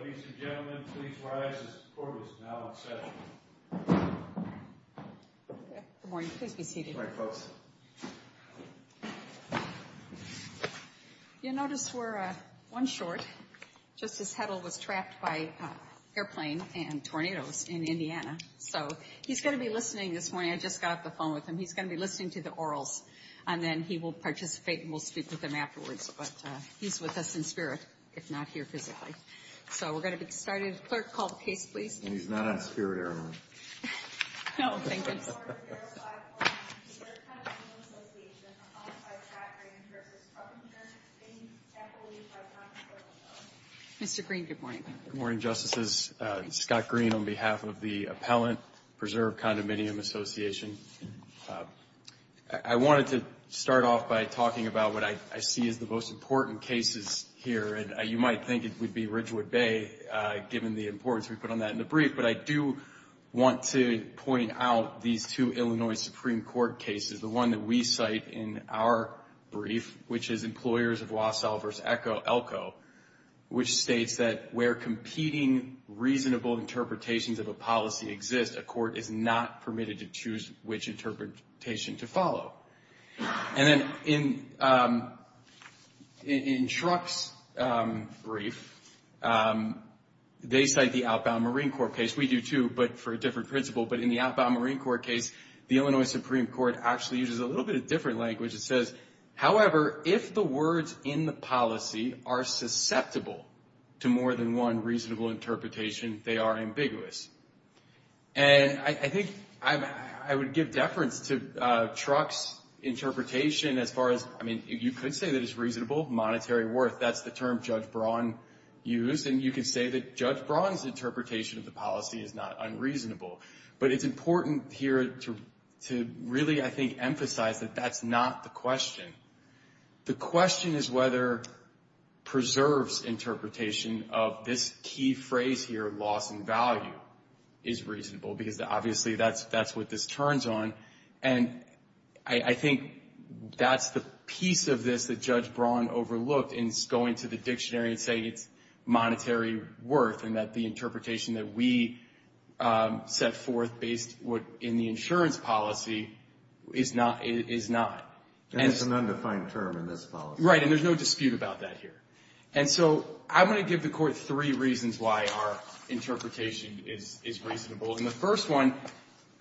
Ladies and gentlemen, please rise. The court is now in session. Good morning. Please be seated. You'll notice we're one short. Justice Hedl was trapped by an airplane and tornadoes in Indiana. So, he's going to be listening this morning. I just got off the phone with him. He's going to be listening to the orals, and then he will participate and we'll speak with him afterwards. But he's with us in spirit, if not here physically. So, we're going to get started. Clerk, call the case, please. And he's not on spirit air, am I right? No, thank you. Mr. Green, good morning. Good morning, Justices. Scott Green on behalf of the Appellant Preserve Condominium Association. I wanted to start off by talking about what I see as the most important cases here. And you might think it would be Ridgewood Bay, given the importance we put on that in the brief. But I do want to point out these two Illinois Supreme Court cases. The one that we cite in our brief, which is Employers of Wausau v. Elko, which states that where competing reasonable interpretations of a policy exist, a court is not permitted to choose which interpretation to follow. And then in Shruck's brief, they cite the outbound Marine Corps case. We do, too, but for a different principle. But in the outbound Marine Corps case, the Illinois Supreme Court actually uses a little bit of different language. It says, however, if the words in the policy are susceptible to more than one reasonable interpretation, they are ambiguous. And I think I would give deference to Shruck's interpretation as far as, I mean, you could say that it's reasonable monetary worth. That's the term Judge Braun used. And you could say that Judge Braun's interpretation of the policy is not unreasonable. But it's important here to really, I think, emphasize that that's not the question. The question is whether Preserve's interpretation of this key phrase here, loss in value, is reasonable, because obviously that's what this turns on. And I think that's the piece of this that Judge Braun overlooked in going to the dictionary and saying it's monetary worth and that the interpretation that we set forth based in the insurance policy is not. And it's an undefined term in this policy. Right. And there's no dispute about that here. And so I want to give the Court three reasons why our interpretation is reasonable. And the first one,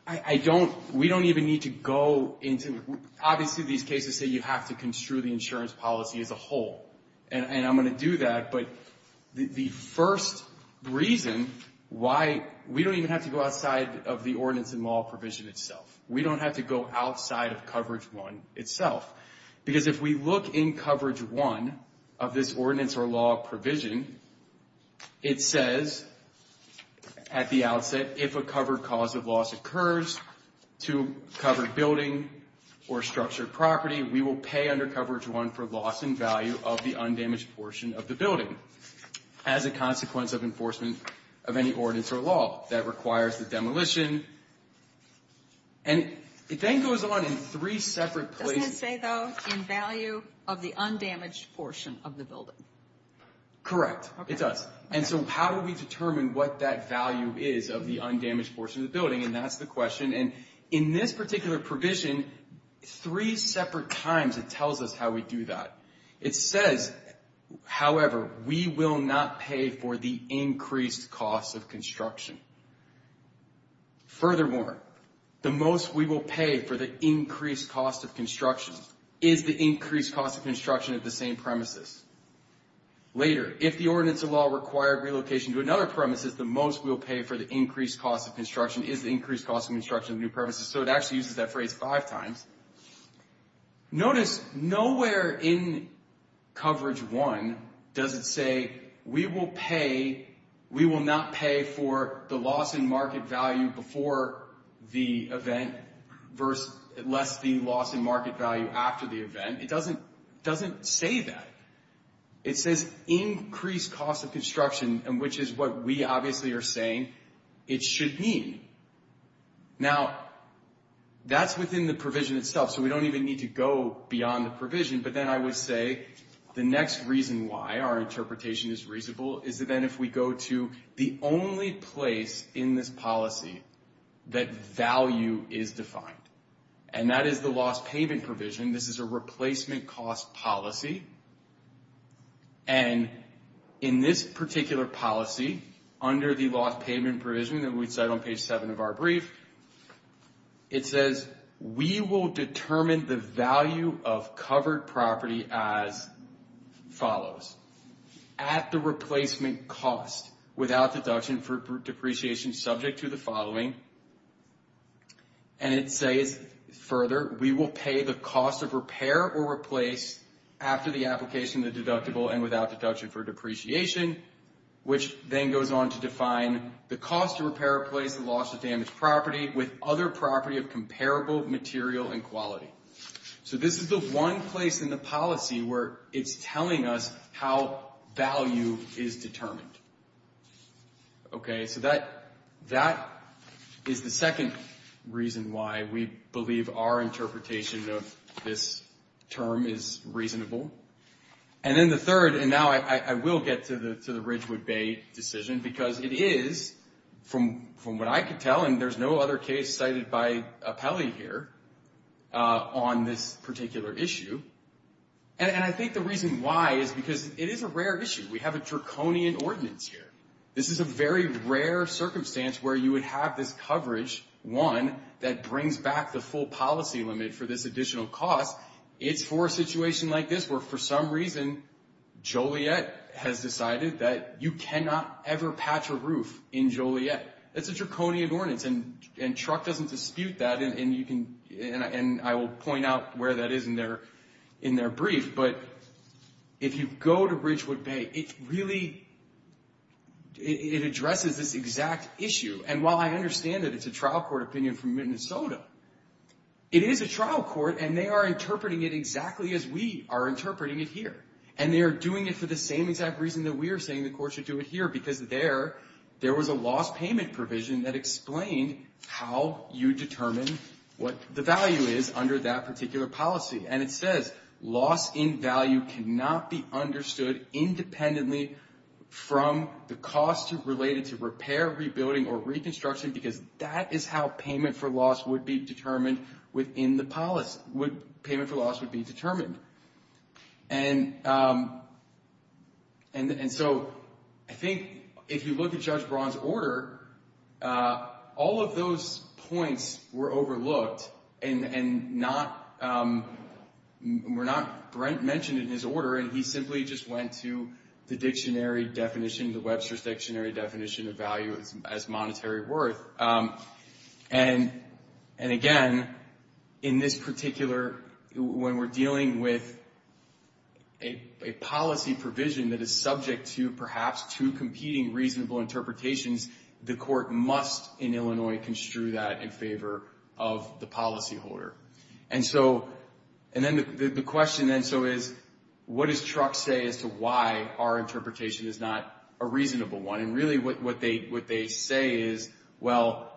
I don't, we don't even need to go into, obviously these cases say you have to construe the insurance policy as a whole. And I'm going to do that. But the first reason why, we don't even have to go outside of the ordinance and law provision itself. We don't have to go outside of coverage one itself. Because if we look in coverage one of this ordinance or law provision, it says at the outset, if a covered cause of loss occurs to covered building or structured property, we will pay under coverage one for loss in value of the undamaged portion of the building as a consequence of enforcement of any ordinance or law that requires the demolition. And it then goes on in three separate places. It does say, though, in value of the undamaged portion of the building. Correct. It does. And so how do we determine what that value is of the undamaged portion of the building? And that's the question. And in this particular provision, three separate times it tells us how we do that. It says, however, we will not pay for the increased cost of construction. Furthermore, the most we will pay for the increased cost of construction is the increased cost of construction of the same premises. Later, if the ordinance or law required relocation to another premises, the most we will pay for the increased cost of construction is the increased cost of construction of the new premises. So it actually uses that phrase five times. Notice nowhere in coverage one does it say we will pay, we will not pay for the loss in market value before the event lest the loss in market value after the event. It doesn't say that. It says increased cost of construction, which is what we obviously are saying it should mean. Now, that's within the provision itself, so we don't even need to go beyond the provision. But then I would say the next reason why our interpretation is reasonable is that then if we go to the only place in this policy that value is defined, and that is the loss payment provision. This is a replacement cost policy. And in this particular policy, under the loss payment provision that we cite on page seven of our brief, it says we will determine the value of covered property as follows. At the replacement cost without deduction for depreciation subject to the following, and it says further, we will pay the cost of repair or replace after the application of the deductible and without deduction for depreciation, which then goes on to define the cost of repair or place the loss of damaged property with other property of comparable material and quality. So this is the one place in the policy where it's telling us how value is determined. Okay, so that is the second reason why we believe our interpretation of this term is reasonable. And then the third, and now I will get to the Ridgewood Bay decision, because it is, from what I could tell, and there's no other case cited by Apelli here on this particular issue. And I think the reason why is because it is a rare issue. We have a draconian ordinance here. This is a very rare circumstance where you would have this coverage, one, that brings back the full policy limit for this additional cost. It's for a situation like this where, for some reason, Joliet has decided that you cannot ever patch a roof in Joliet. That's a draconian ordinance, and Truck doesn't dispute that, and I will point out where that is in their brief. But if you go to Ridgewood Bay, it really addresses this exact issue. And while I understand that it's a trial court opinion from Minnesota, it is a trial court, and they are interpreting it exactly as we are interpreting it here. And they are doing it for the same exact reason that we are saying the court should do it here, because there was a loss payment provision that explained how you determine what the value is under that particular policy. And it says loss in value cannot be understood independently from the cost related to repair, rebuilding, or reconstruction, because that is how payment for loss would be determined within the policy. Payment for loss would be determined. And so I think if you look at Judge Braun's order, all of those points were overlooked and were not mentioned in his order, and he simply just went to the dictionary definition, the Webster's dictionary definition of value as monetary worth. And again, in this particular, when we're dealing with a policy provision that is subject to perhaps two competing reasonable interpretations, the court must in Illinois construe that in favor of the policyholder. And so, and then the question then so is, what does Truck say as to why our interpretation is not a reasonable one? And really what they say is, well,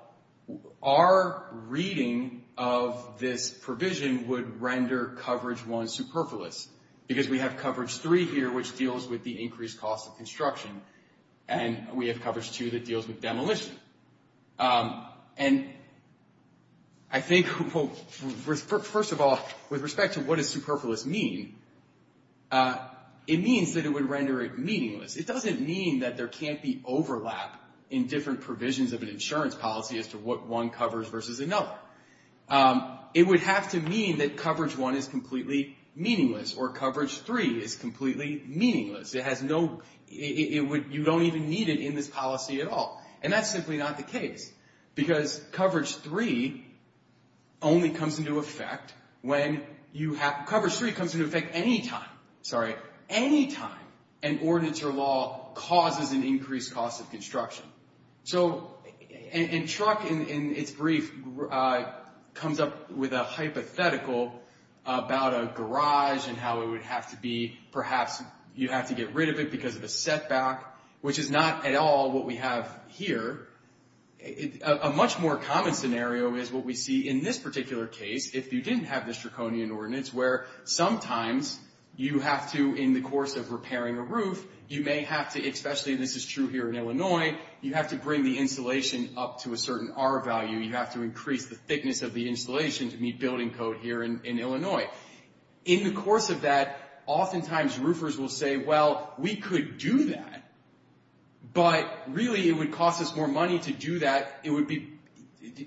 our reading of this provision would render coverage one superfluous, because we have coverage three here, which deals with the increased cost of construction, and we have coverage two that deals with demolition. And I think, first of all, with respect to what does superfluous mean, it means that it would render it meaningless. It doesn't mean that there can't be overlap in different provisions of an insurance policy as to what one covers versus another. It would have to mean that coverage one is completely meaningless or coverage three is completely meaningless. It has no, you don't even need it in this policy at all. And that's simply not the case, because coverage three only comes into effect when you have, coverage three comes into effect any time, sorry, any time an ordinance or law causes an increased cost of construction. So, and Truck in its brief comes up with a hypothetical about a garage and how it would have to be, perhaps you have to get rid of it because of a setback, which is not at all what we have here. A much more common scenario is what we see in this particular case, if you didn't have this Draconian ordinance, where sometimes you have to, in the course of repairing a roof, you may have to, especially this is true here in Illinois, you have to bring the insulation up to a certain R value. You have to increase the thickness of the insulation to meet building code here in Illinois. In the course of that, oftentimes roofers will say, well, we could do that, but really it would cost us more money to do that. It would be,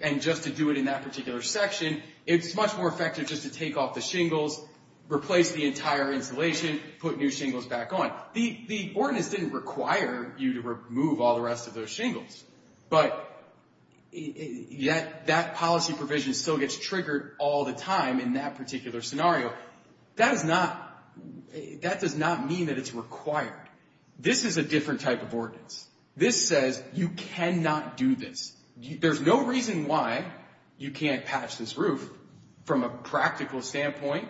and just to do it in that particular section, it's much more effective just to take off the shingles, replace the entire insulation, put new shingles back on. The ordinance didn't require you to remove all the rest of those shingles, but yet that policy provision still gets triggered all the time in that particular scenario. That does not mean that it's required. This is a different type of ordinance. This says you cannot do this. There's no reason why you can't patch this roof from a practical standpoint,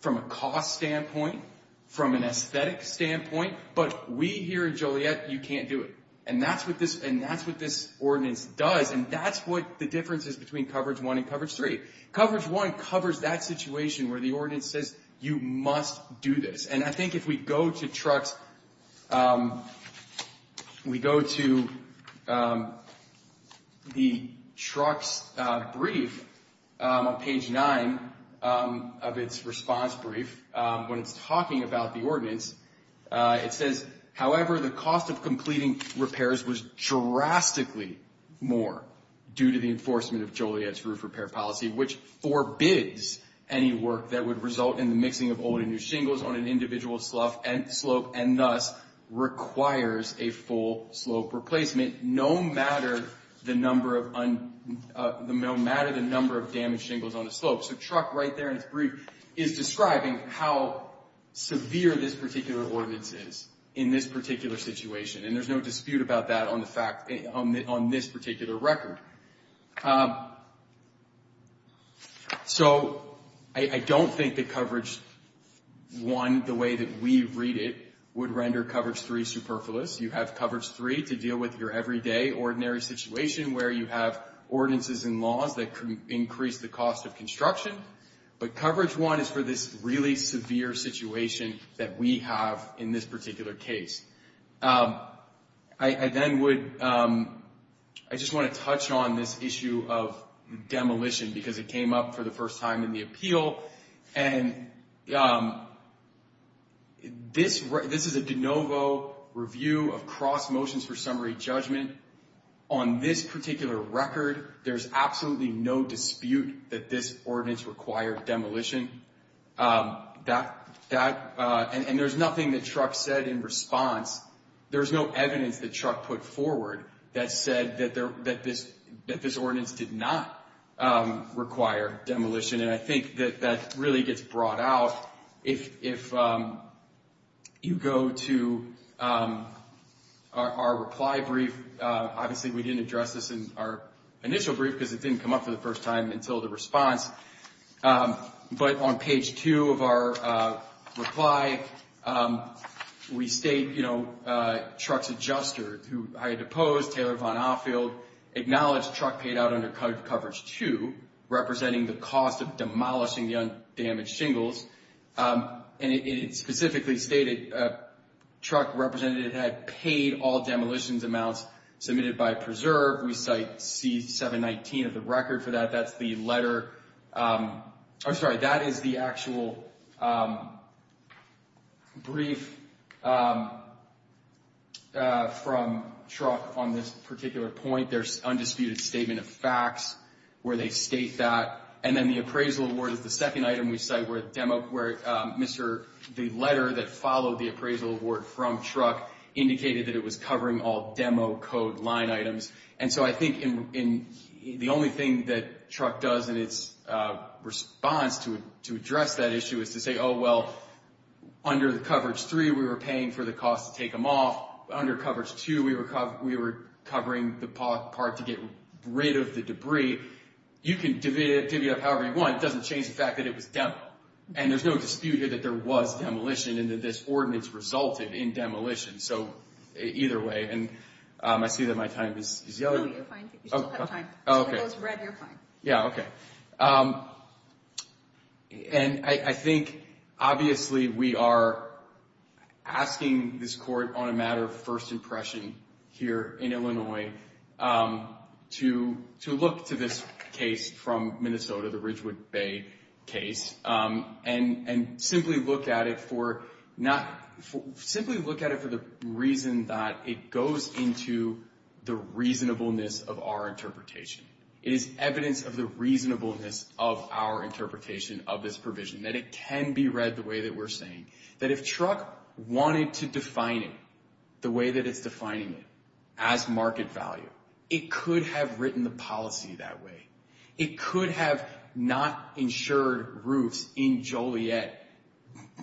from a cost standpoint, from an aesthetic standpoint, but we here in Joliet, you can't do it. That's what this ordinance does, and that's what the difference is between Coverage 1 and Coverage 3. Coverage 1 covers that situation where the ordinance says you must do this. I think if we go to the truck's brief on page 9 of its response brief, when it's talking about the ordinance, it says, however, the cost of completing repairs was drastically more due to the enforcement of Joliet's roof repair policy, which forbids any work that would result in the mixing of old and new shingles on an individual slope, and thus requires a full slope replacement, no matter the number of damaged shingles on the slope. So truck right there in its brief is describing how severe this particular ordinance is in this particular situation, and there's no dispute about that on this particular record. So I don't think that Coverage 1, the way that we read it, would render Coverage 3 superfluous. You have Coverage 3 to deal with your everyday, ordinary situation where you have ordinances and laws that increase the cost of construction, but Coverage 1 is for this really severe situation that we have in this particular case. I just want to touch on this issue of demolition because it came up for the first time in the appeal, and this is a de novo review of cross motions for summary judgment. On this particular record, there's absolutely no dispute that this ordinance required demolition, and there's nothing that truck said in response. There's no evidence that truck put forward that said that this ordinance did not require demolition, and I think that that really gets brought out. If you go to our reply brief, obviously we didn't address this in our initial brief because it didn't come up for the first time until the response, but on page 2 of our reply, we state, you know, Mr. Pose, Taylor Von Offield, acknowledged truck paid out under Coverage 2, representing the cost of demolishing the damaged shingles, and it specifically stated truck represented it had paid all demolitions amounts submitted by Preserve. We cite C719 of the record for that. That's the letter. I'm sorry. That is the actual brief from truck on this particular point. There's undisputed statement of facts where they state that, and then the appraisal award is the second item we cite where Mr. The letter that followed the appraisal award from truck indicated that it was covering all demo code line items, and so I think the only thing that truck does in its response to address that issue is to say, oh, well, under the Coverage 3, we were paying for the cost to take them off. Under Coverage 2, we were covering the part to get rid of the debris. You can divvy it up however you want. It doesn't change the fact that it was demo, and there's no dispute here that there was demolition and that this ordinance resulted in demolition, so either way, and I see that my time is yellow. No, you're fine. You still have time. Oh, okay. If it goes red, you're fine. Yeah, okay, and I think, obviously, we are asking this court on a matter of first impression here in Illinois to look to this case from Minnesota, the Ridgewood Bay case, and simply look at it for the reason that it goes into the reasonableness of our interpretation. It is evidence of the reasonableness of our interpretation of this provision, that it can be read the way that we're saying, that if truck wanted to define it the way that it's defining it as market value, it could have written the policy that way. It could have not insured roofs in Joliet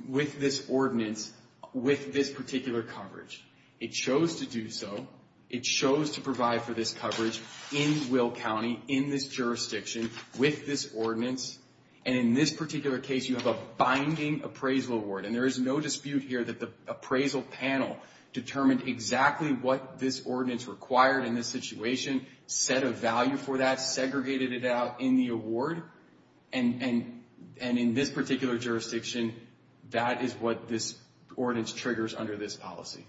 with this ordinance, with this particular coverage. It chose to do so. It chose to provide for this coverage in Will County, in this jurisdiction, with this ordinance, and in this particular case, you have a binding appraisal award, and there is no dispute here that the appraisal panel determined exactly what this ordinance required in this situation, set a value for that, segregated it out in the award, and in this particular jurisdiction, that is what this ordinance triggers under this policy.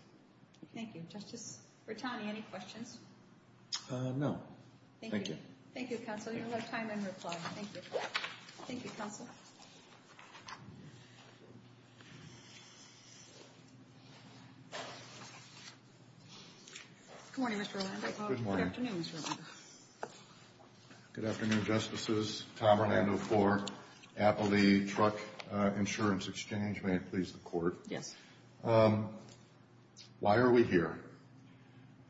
Thank you. Justice Bertani, any questions? No. Thank you. Thank you, Counsel. You have a lot of time in reply. Thank you, Counsel. Good morning, Mr. Orlando. Good morning. Good afternoon, Mr. Orlando. Good afternoon, Justices. Tom Orlando for Appley Truck Insurance Exchange. May it please the Court. Yes. Why are we here?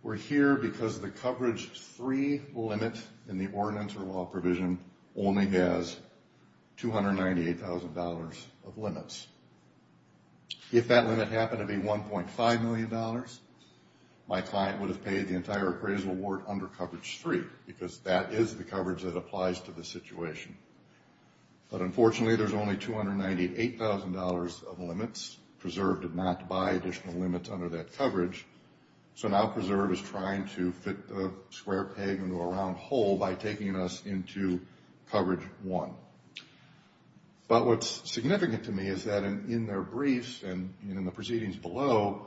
We're here because the coverage three limit in the ordinance or law provision only has $298,000 of limits. If that limit happened to be $1.5 million, my client would have paid the entire appraisal award under coverage three, because that is the coverage that applies to the situation. But unfortunately, there's only $298,000 of limits. Preserve did not buy additional limits under that coverage, so now Preserve is trying to fit the square peg into a round hole by taking us into coverage one. But what's significant to me is that in their briefs and in the proceedings below,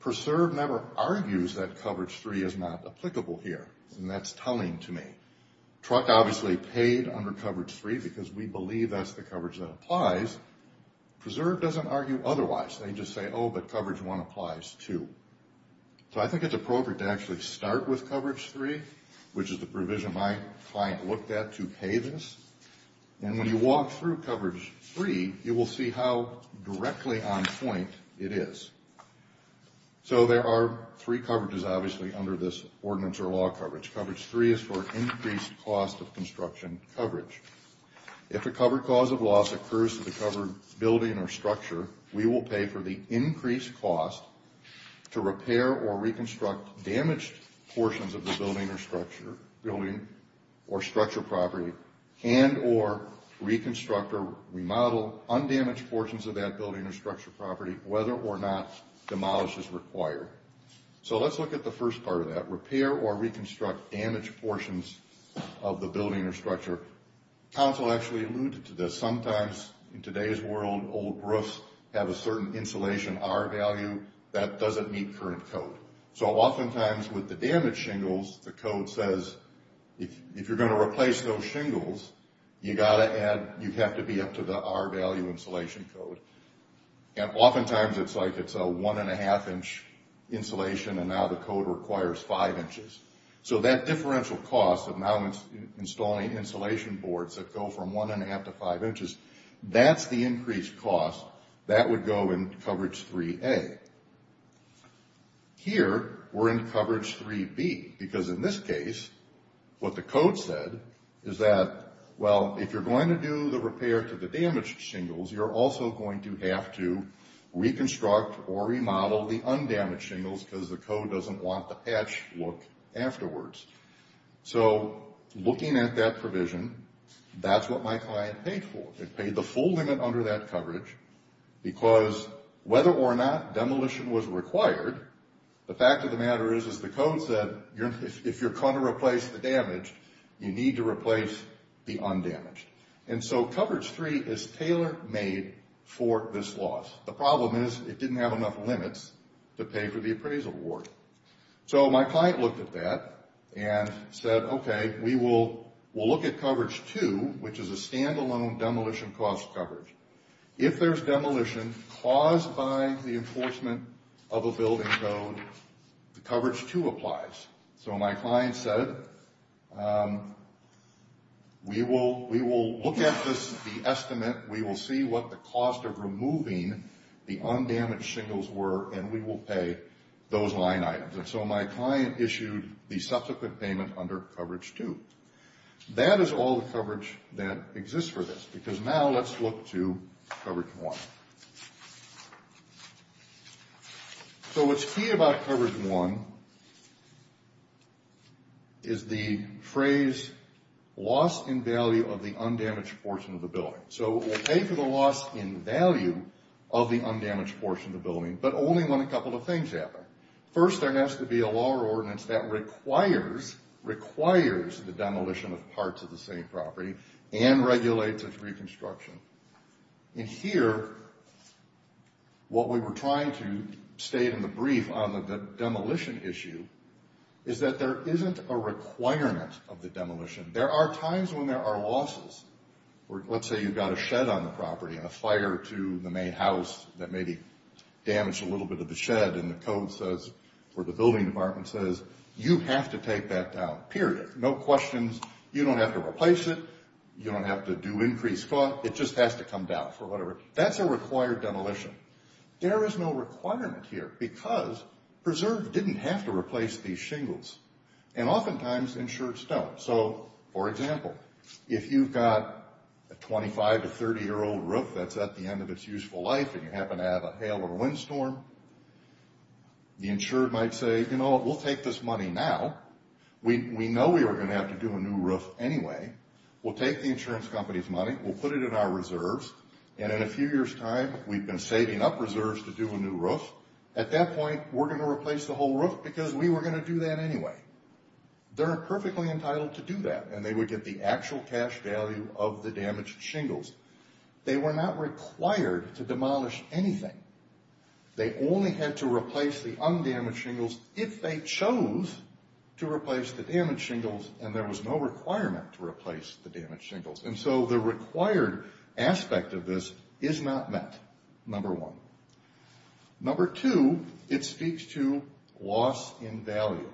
Preserve never argues that coverage three is not applicable here, and that's telling to me. Truck obviously paid under coverage three because we believe that's the coverage that applies. Preserve doesn't argue otherwise. They just say, oh, but coverage one applies too. So I think it's appropriate to actually start with coverage three, which is the provision my client looked at to pay this. And when you walk through coverage three, you will see how directly on point it is. So there are three coverages, obviously, under this ordinance or law coverage. Coverage three is for increased cost of construction coverage. If a covered cause of loss occurs to the covered building or structure, we will pay for the increased cost to repair or reconstruct damaged portions of the building or structure property and or reconstruct or remodel undamaged portions of that building or structure property, whether or not demolish is required. So let's look at the first part of that, repair or reconstruct damaged portions of the building or structure. Council actually alluded to this. Sometimes in today's world, old roofs have a certain insulation R value that doesn't meet current code. So oftentimes with the damaged shingles, the code says if you're going to replace those shingles, you have to be up to the R value insulation code. And oftentimes it's like it's a one and a half inch insulation, and now the code requires five inches. So that differential cost of now installing insulation boards that go from one and a half to five inches, that's the increased cost. That would go in coverage three A. Here, we're in coverage three B, because in this case, what the code said is that, well, if you're going to do the repair to the damaged shingles, you're also going to have to reconstruct or remodel the undamaged shingles, because the code doesn't want the patched look afterwards. So looking at that provision, that's what my client paid for. It paid the full limit under that coverage, because whether or not demolition was required, the fact of the matter is, is the code said if you're going to replace the damaged, you need to replace the undamaged. And so coverage three is tailor-made for this loss. The problem is it didn't have enough limits to pay for the appraisal award. So my client looked at that and said, okay, we'll look at coverage two, which is a stand-alone demolition cost coverage. If there's demolition caused by the enforcement of a building code, the coverage two applies. So my client said, we will look at the estimate, we will see what the cost of removing the undamaged shingles were, and we will pay those line items. And so my client issued the subsequent payment under coverage two. That is all the coverage that exists for this, because now let's look to coverage one. So what's key about coverage one is the phrase loss in value of the undamaged portion of the building. So we'll pay for the loss in value of the undamaged portion of the building, but only when a couple of things happen. First, there has to be a law or ordinance that requires, requires the demolition of parts of the same property and regulates its reconstruction. And here, what we were trying to state in the brief on the demolition issue is that there isn't a requirement of the demolition. There are times when there are losses. Let's say you've got a shed on the property and a fire to the main house that maybe damaged a little bit of the shed, and the code says, or the building department says, you have to take that down, period. No questions. You don't have to replace it. You don't have to do increased cost. It just has to come down for whatever. That's a required demolition. There is no requirement here, because Preserve didn't have to replace these shingles, and oftentimes insureds don't. So, for example, if you've got a 25- to 30-year-old roof that's at the end of its useful life, and you happen to have a hail or a windstorm, the insured might say, you know, we'll take this money now. We know we are going to have to do a new roof anyway. We'll take the insurance company's money. We'll put it in our reserves, and in a few years' time, we've been saving up reserves to do a new roof. At that point, we're going to replace the whole roof because we were going to do that anyway. They're perfectly entitled to do that, and they would get the actual cash value of the damaged shingles. They were not required to demolish anything. They only had to replace the undamaged shingles if they chose to replace the damaged shingles, and there was no requirement to replace the damaged shingles. And so the required aspect of this is not met, number one. Number two, it speaks to loss in value.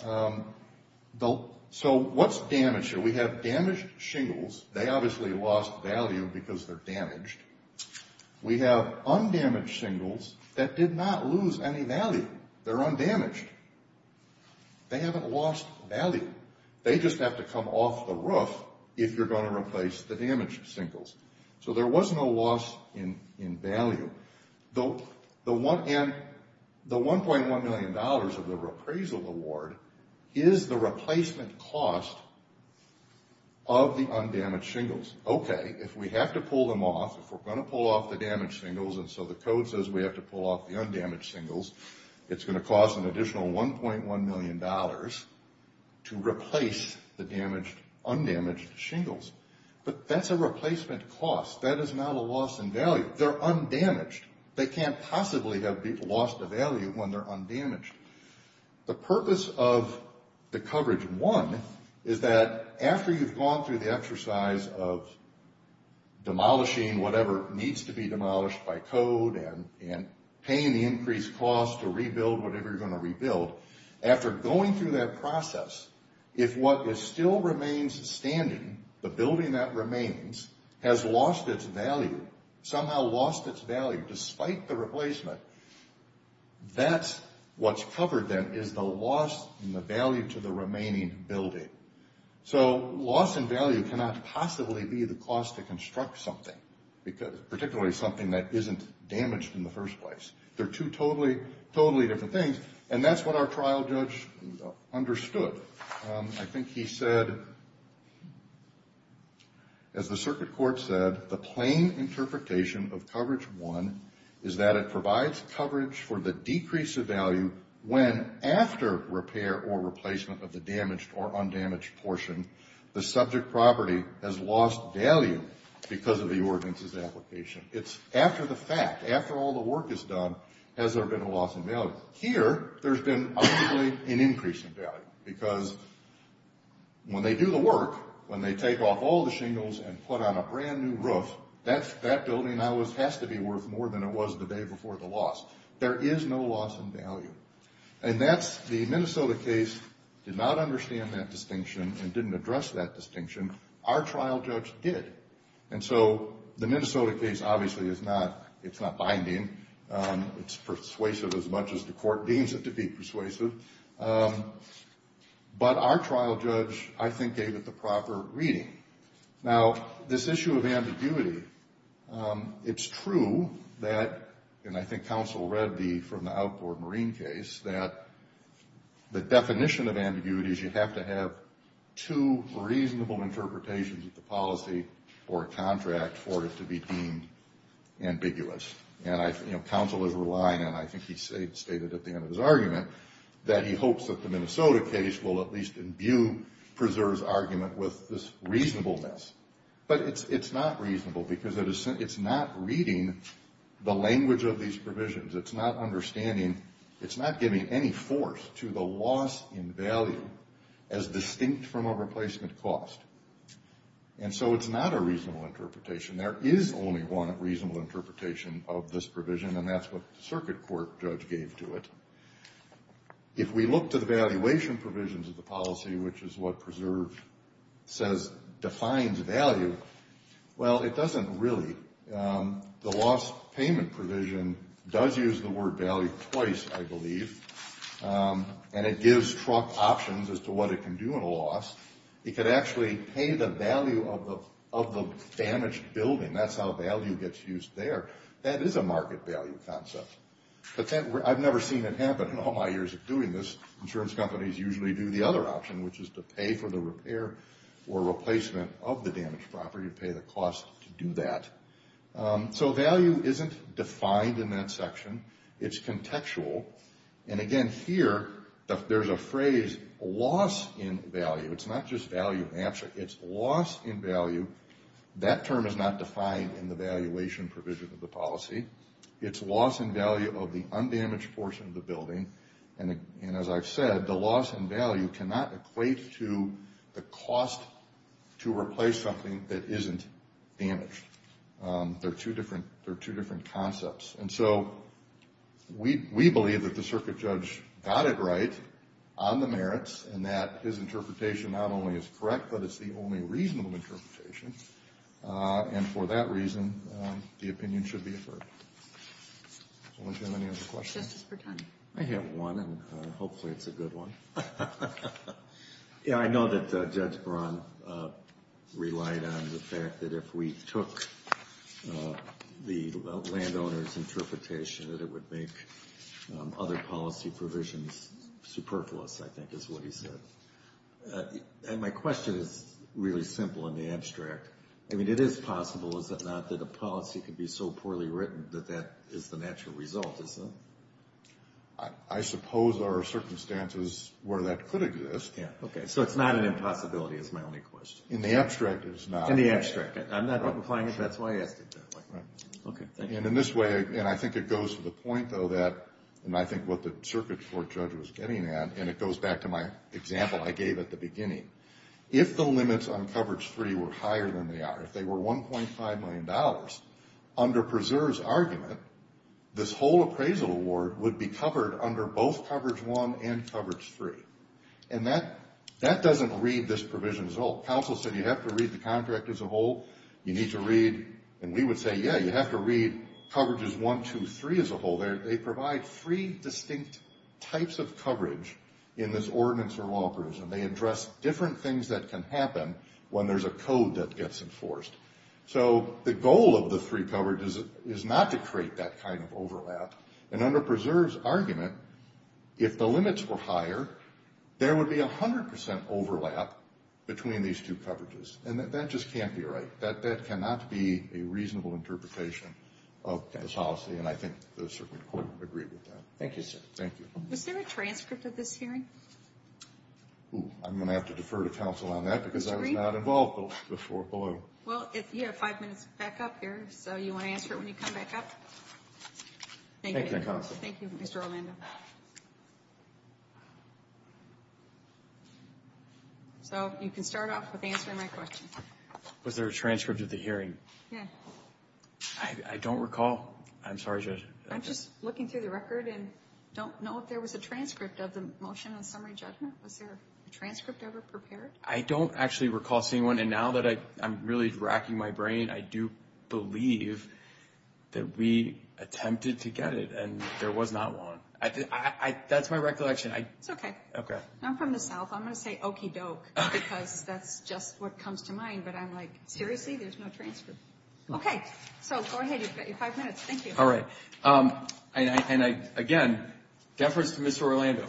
So what's damaged here? We have damaged shingles. They obviously lost value because they're damaged. We have undamaged shingles that did not lose any value. They're undamaged. They haven't lost value. They just have to come off the roof if you're going to replace the damaged shingles. So there was no loss in value. And the $1.1 million of the repraisal award is the replacement cost of the undamaged shingles. Okay, if we have to pull them off, if we're going to pull off the damaged shingles, and so the code says we have to pull off the undamaged shingles, it's going to cost an additional $1.1 million to replace the undamaged shingles. But that's a replacement cost. That is not a loss in value. They're undamaged. They can't possibly have lost a value when they're undamaged. The purpose of the coverage, one, is that after you've gone through the exercise of demolishing whatever needs to be demolished by code and paying the increased cost to rebuild whatever you're going to rebuild, after going through that process, if what still remains standing, the building that remains, has lost its value, somehow lost its value despite the replacement, that's what's covered then is the loss in the value to the remaining building. So loss in value cannot possibly be the cost to construct something, particularly something that isn't damaged in the first place. They're two totally, totally different things, and that's what our trial judge understood. I think he said, as the circuit court said, the plain interpretation of coverage one is that it provides coverage for the decrease of value when after repair or replacement of the damaged or undamaged portion, the subject property has lost value because of the ordinance's application. It's after the fact, after all the work is done, has there been a loss in value. Here, there's been obviously an increase in value because when they do the work, when they take off all the shingles and put on a brand new roof, that building now has to be worth more than it was the day before the loss. There is no loss in value. And that's the Minnesota case did not understand that distinction and didn't address that distinction. Our trial judge did. And so the Minnesota case obviously is not binding. It's persuasive as much as the court deems it to be persuasive. But our trial judge, I think, gave it the proper reading. Now, this issue of ambiguity, it's true that, and I think counsel read from the outboard marine case, that the definition of ambiguity is you have to have two reasonable interpretations of the policy or contract for it to be deemed ambiguous. And counsel is relying, and I think he stated at the end of his argument, that he hopes that the Minnesota case will at least imbue, preserves argument with this reasonableness. But it's not reasonable because it's not reading the language of these provisions. It's not understanding. It's not giving any force to the loss in value as distinct from a replacement cost. And so it's not a reasonable interpretation. There is only one reasonable interpretation of this provision, and that's what the circuit court judge gave to it. If we look to the valuation provisions of the policy, which is what preserve says defines value, well, it doesn't really. The loss payment provision does use the word value twice, I believe, and it gives truck options as to what it can do in a loss. It could actually pay the value of the damaged building. That's how value gets used there. That is a market value concept. I've never seen it happen in all my years of doing this. Insurance companies usually do the other option, which is to pay for the repair or replacement of the damaged property, pay the cost to do that. So value isn't defined in that section. It's contextual. And, again, here there's a phrase, loss in value. It's not just value in abstract. It's loss in value. That term is not defined in the valuation provision of the policy. It's loss in value of the undamaged portion of the building. And, as I've said, the loss in value cannot equate to the cost to replace something that isn't damaged. They're two different concepts. And so we believe that the circuit judge got it right on the merits and that his interpretation not only is correct, but it's the only reasonable interpretation. And for that reason, the opinion should be affirmed. Does anyone have any other questions? I have one, and hopefully it's a good one. Yeah, I know that Judge Braun relied on the fact that if we took the landowner's interpretation that it would make other policy provisions superfluous, I think is what he said. And my question is really simple in the abstract. I mean, it is possible, is it not, that a policy can be so poorly written that that is the natural result, is it? I suppose there are circumstances where that could exist. Yeah, okay. So it's not an impossibility is my only question. In the abstract, it's not. In the abstract. I'm not implying it. That's why I asked it that way. Right. Okay, thank you. And in this way, and I think it goes to the point, though, that, and I think what the circuit court judge was getting at, and it goes back to my example I gave at the beginning, if the limits on coverage free were higher than they are, if they were $1.5 million, under Preserve's argument, this whole appraisal award would be covered under both coverage one and coverage free. And that doesn't read this provision as a whole. Counsel said you have to read the contract as a whole. You need to read, and we would say, yeah, you have to read coverages one, two, three as a whole. They provide three distinct types of coverage in this ordinance or law provision. They address different things that can happen when there's a code that gets enforced. So the goal of the three coverages is not to create that kind of overlap. And under Preserve's argument, if the limits were higher, there would be 100% overlap between these two coverages. And that just can't be right. That cannot be a reasonable interpretation of this policy, and I think the circuit court agreed with that. Thank you, sir. Thank you. Was there a transcript of this hearing? I'm going to have to defer to counsel on that because I was not involved before. Well, you have five minutes back up here, so you want to answer it when you come back up? Thank you, Mr. Armando. So you can start off with answering my question. Was there a transcript of the hearing? Yeah. I don't recall. I'm sorry. I'm just looking through the record and don't know if there was a transcript of the motion on summary judgment. Was there a transcript ever prepared? I don't actually recall seeing one. And now that I'm really racking my brain, I do believe that we attempted to get it and there was not one. That's my recollection. It's okay. Okay. I'm from the south. I'm going to say okey-doke because that's just what comes to mind. But I'm like, seriously, there's no transcript? Okay. So go ahead. You've got your five minutes. Thank you. All right. And, again, deference to Mr. Orlando,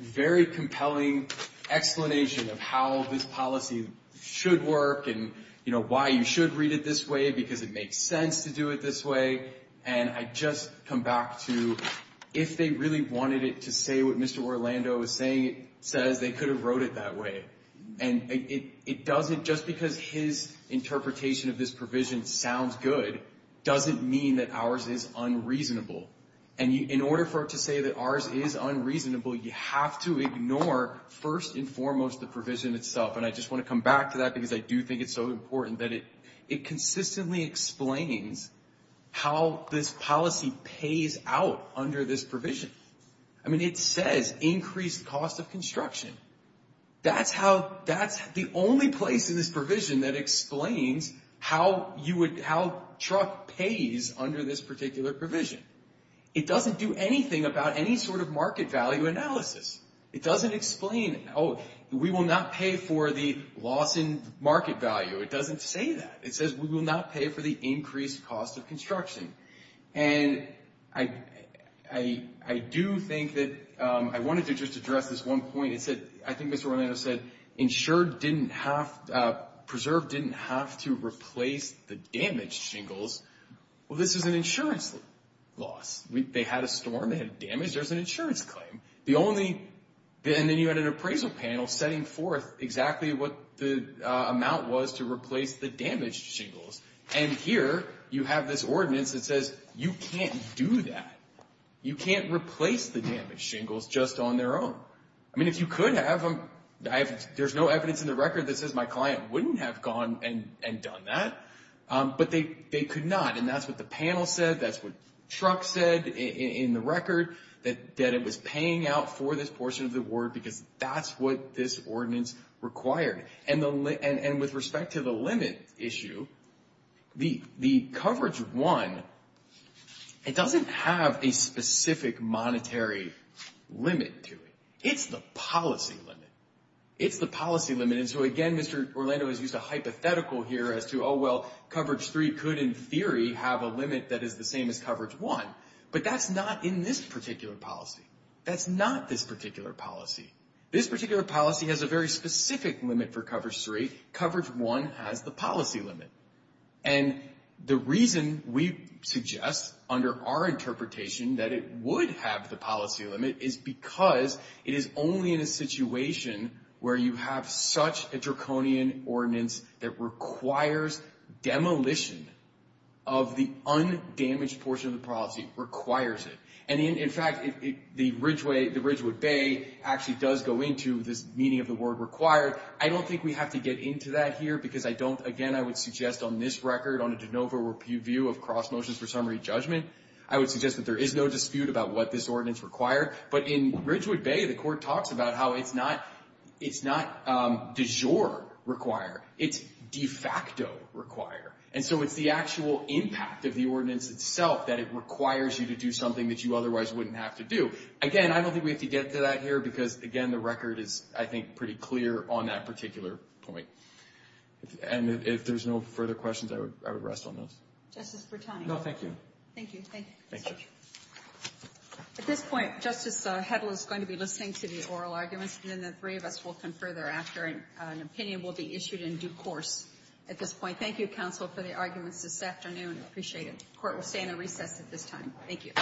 very compelling explanation of how this policy should work and why you should read it this way because it makes sense to do it this way. And I just come back to if they really wanted it to say what Mr. Orlando was saying, it says they could have wrote it that way. And it doesn't, just because his interpretation of this provision sounds good, doesn't mean that ours is unreasonable. And in order for it to say that ours is unreasonable, you have to ignore first and foremost the provision itself. And I just want to come back to that because I do think it's so important that it consistently explains how this policy pays out under this provision. I mean, it says increased cost of construction. That's the only place in this provision that explains how truck pays under this particular provision. It doesn't do anything about any sort of market value analysis. It doesn't explain, oh, we will not pay for the loss in market value. It doesn't say that. It says we will not pay for the increased cost of construction. And I do think that I wanted to just address this one point. I think Mr. Orlando said insured didn't have, preserved didn't have to replace the damaged shingles. Well, this is an insurance loss. They had a storm. They had damage. There's an insurance claim. And then you had an appraisal panel setting forth exactly what the amount was to replace the damaged shingles. And here you have this ordinance that says you can't do that. You can't replace the damaged shingles just on their own. I mean, if you could have them, there's no evidence in the record that says my client wouldn't have gone and done that. But they could not. And that's what the panel said. That's what Truck said in the record, that it was paying out for this portion of the award because that's what this ordinance required. And with respect to the limit issue, the coverage one, it doesn't have a specific monetary limit to it. It's the policy limit. It's the policy limit. And so, again, Mr. Orlando has used a hypothetical here as to, oh, well, coverage three could, in theory, have a limit that is the same as coverage one. But that's not in this particular policy. That's not this particular policy. This particular policy has a very specific limit for coverage three. Coverage one has the policy limit. And the reason we suggest under our interpretation that it would have the same limit as coverage two is because there is such a draconian ordinance that requires demolition of the undamaged portion of the policy, requires it. And, in fact, the Ridgewood Bay actually does go into this meaning of the word required. I don't think we have to get into that here because I don't, again, I would suggest on this record, on a de novo review of cross motions for summary judgment, I would suggest that there is no dispute about what this ordinance required. But in Ridgewood Bay, the court talks about how it's not de jure require. It's de facto require. And so it's the actual impact of the ordinance itself that it requires you to do something that you otherwise wouldn't have to do. Again, I don't think we have to get to that here because, again, the record is, I think, pretty clear on that particular point. And if there's no further questions, I would rest on those. Justice Bertoni. No, thank you. Thank you. Thank you. Thank you. At this point, Justice Hedl is going to be listening to the oral arguments, and then the three of us will come further after, and an opinion will be issued in due course at this point. Thank you, counsel, for the arguments this afternoon. I appreciate it. The Court will stand at recess at this time. Thank you.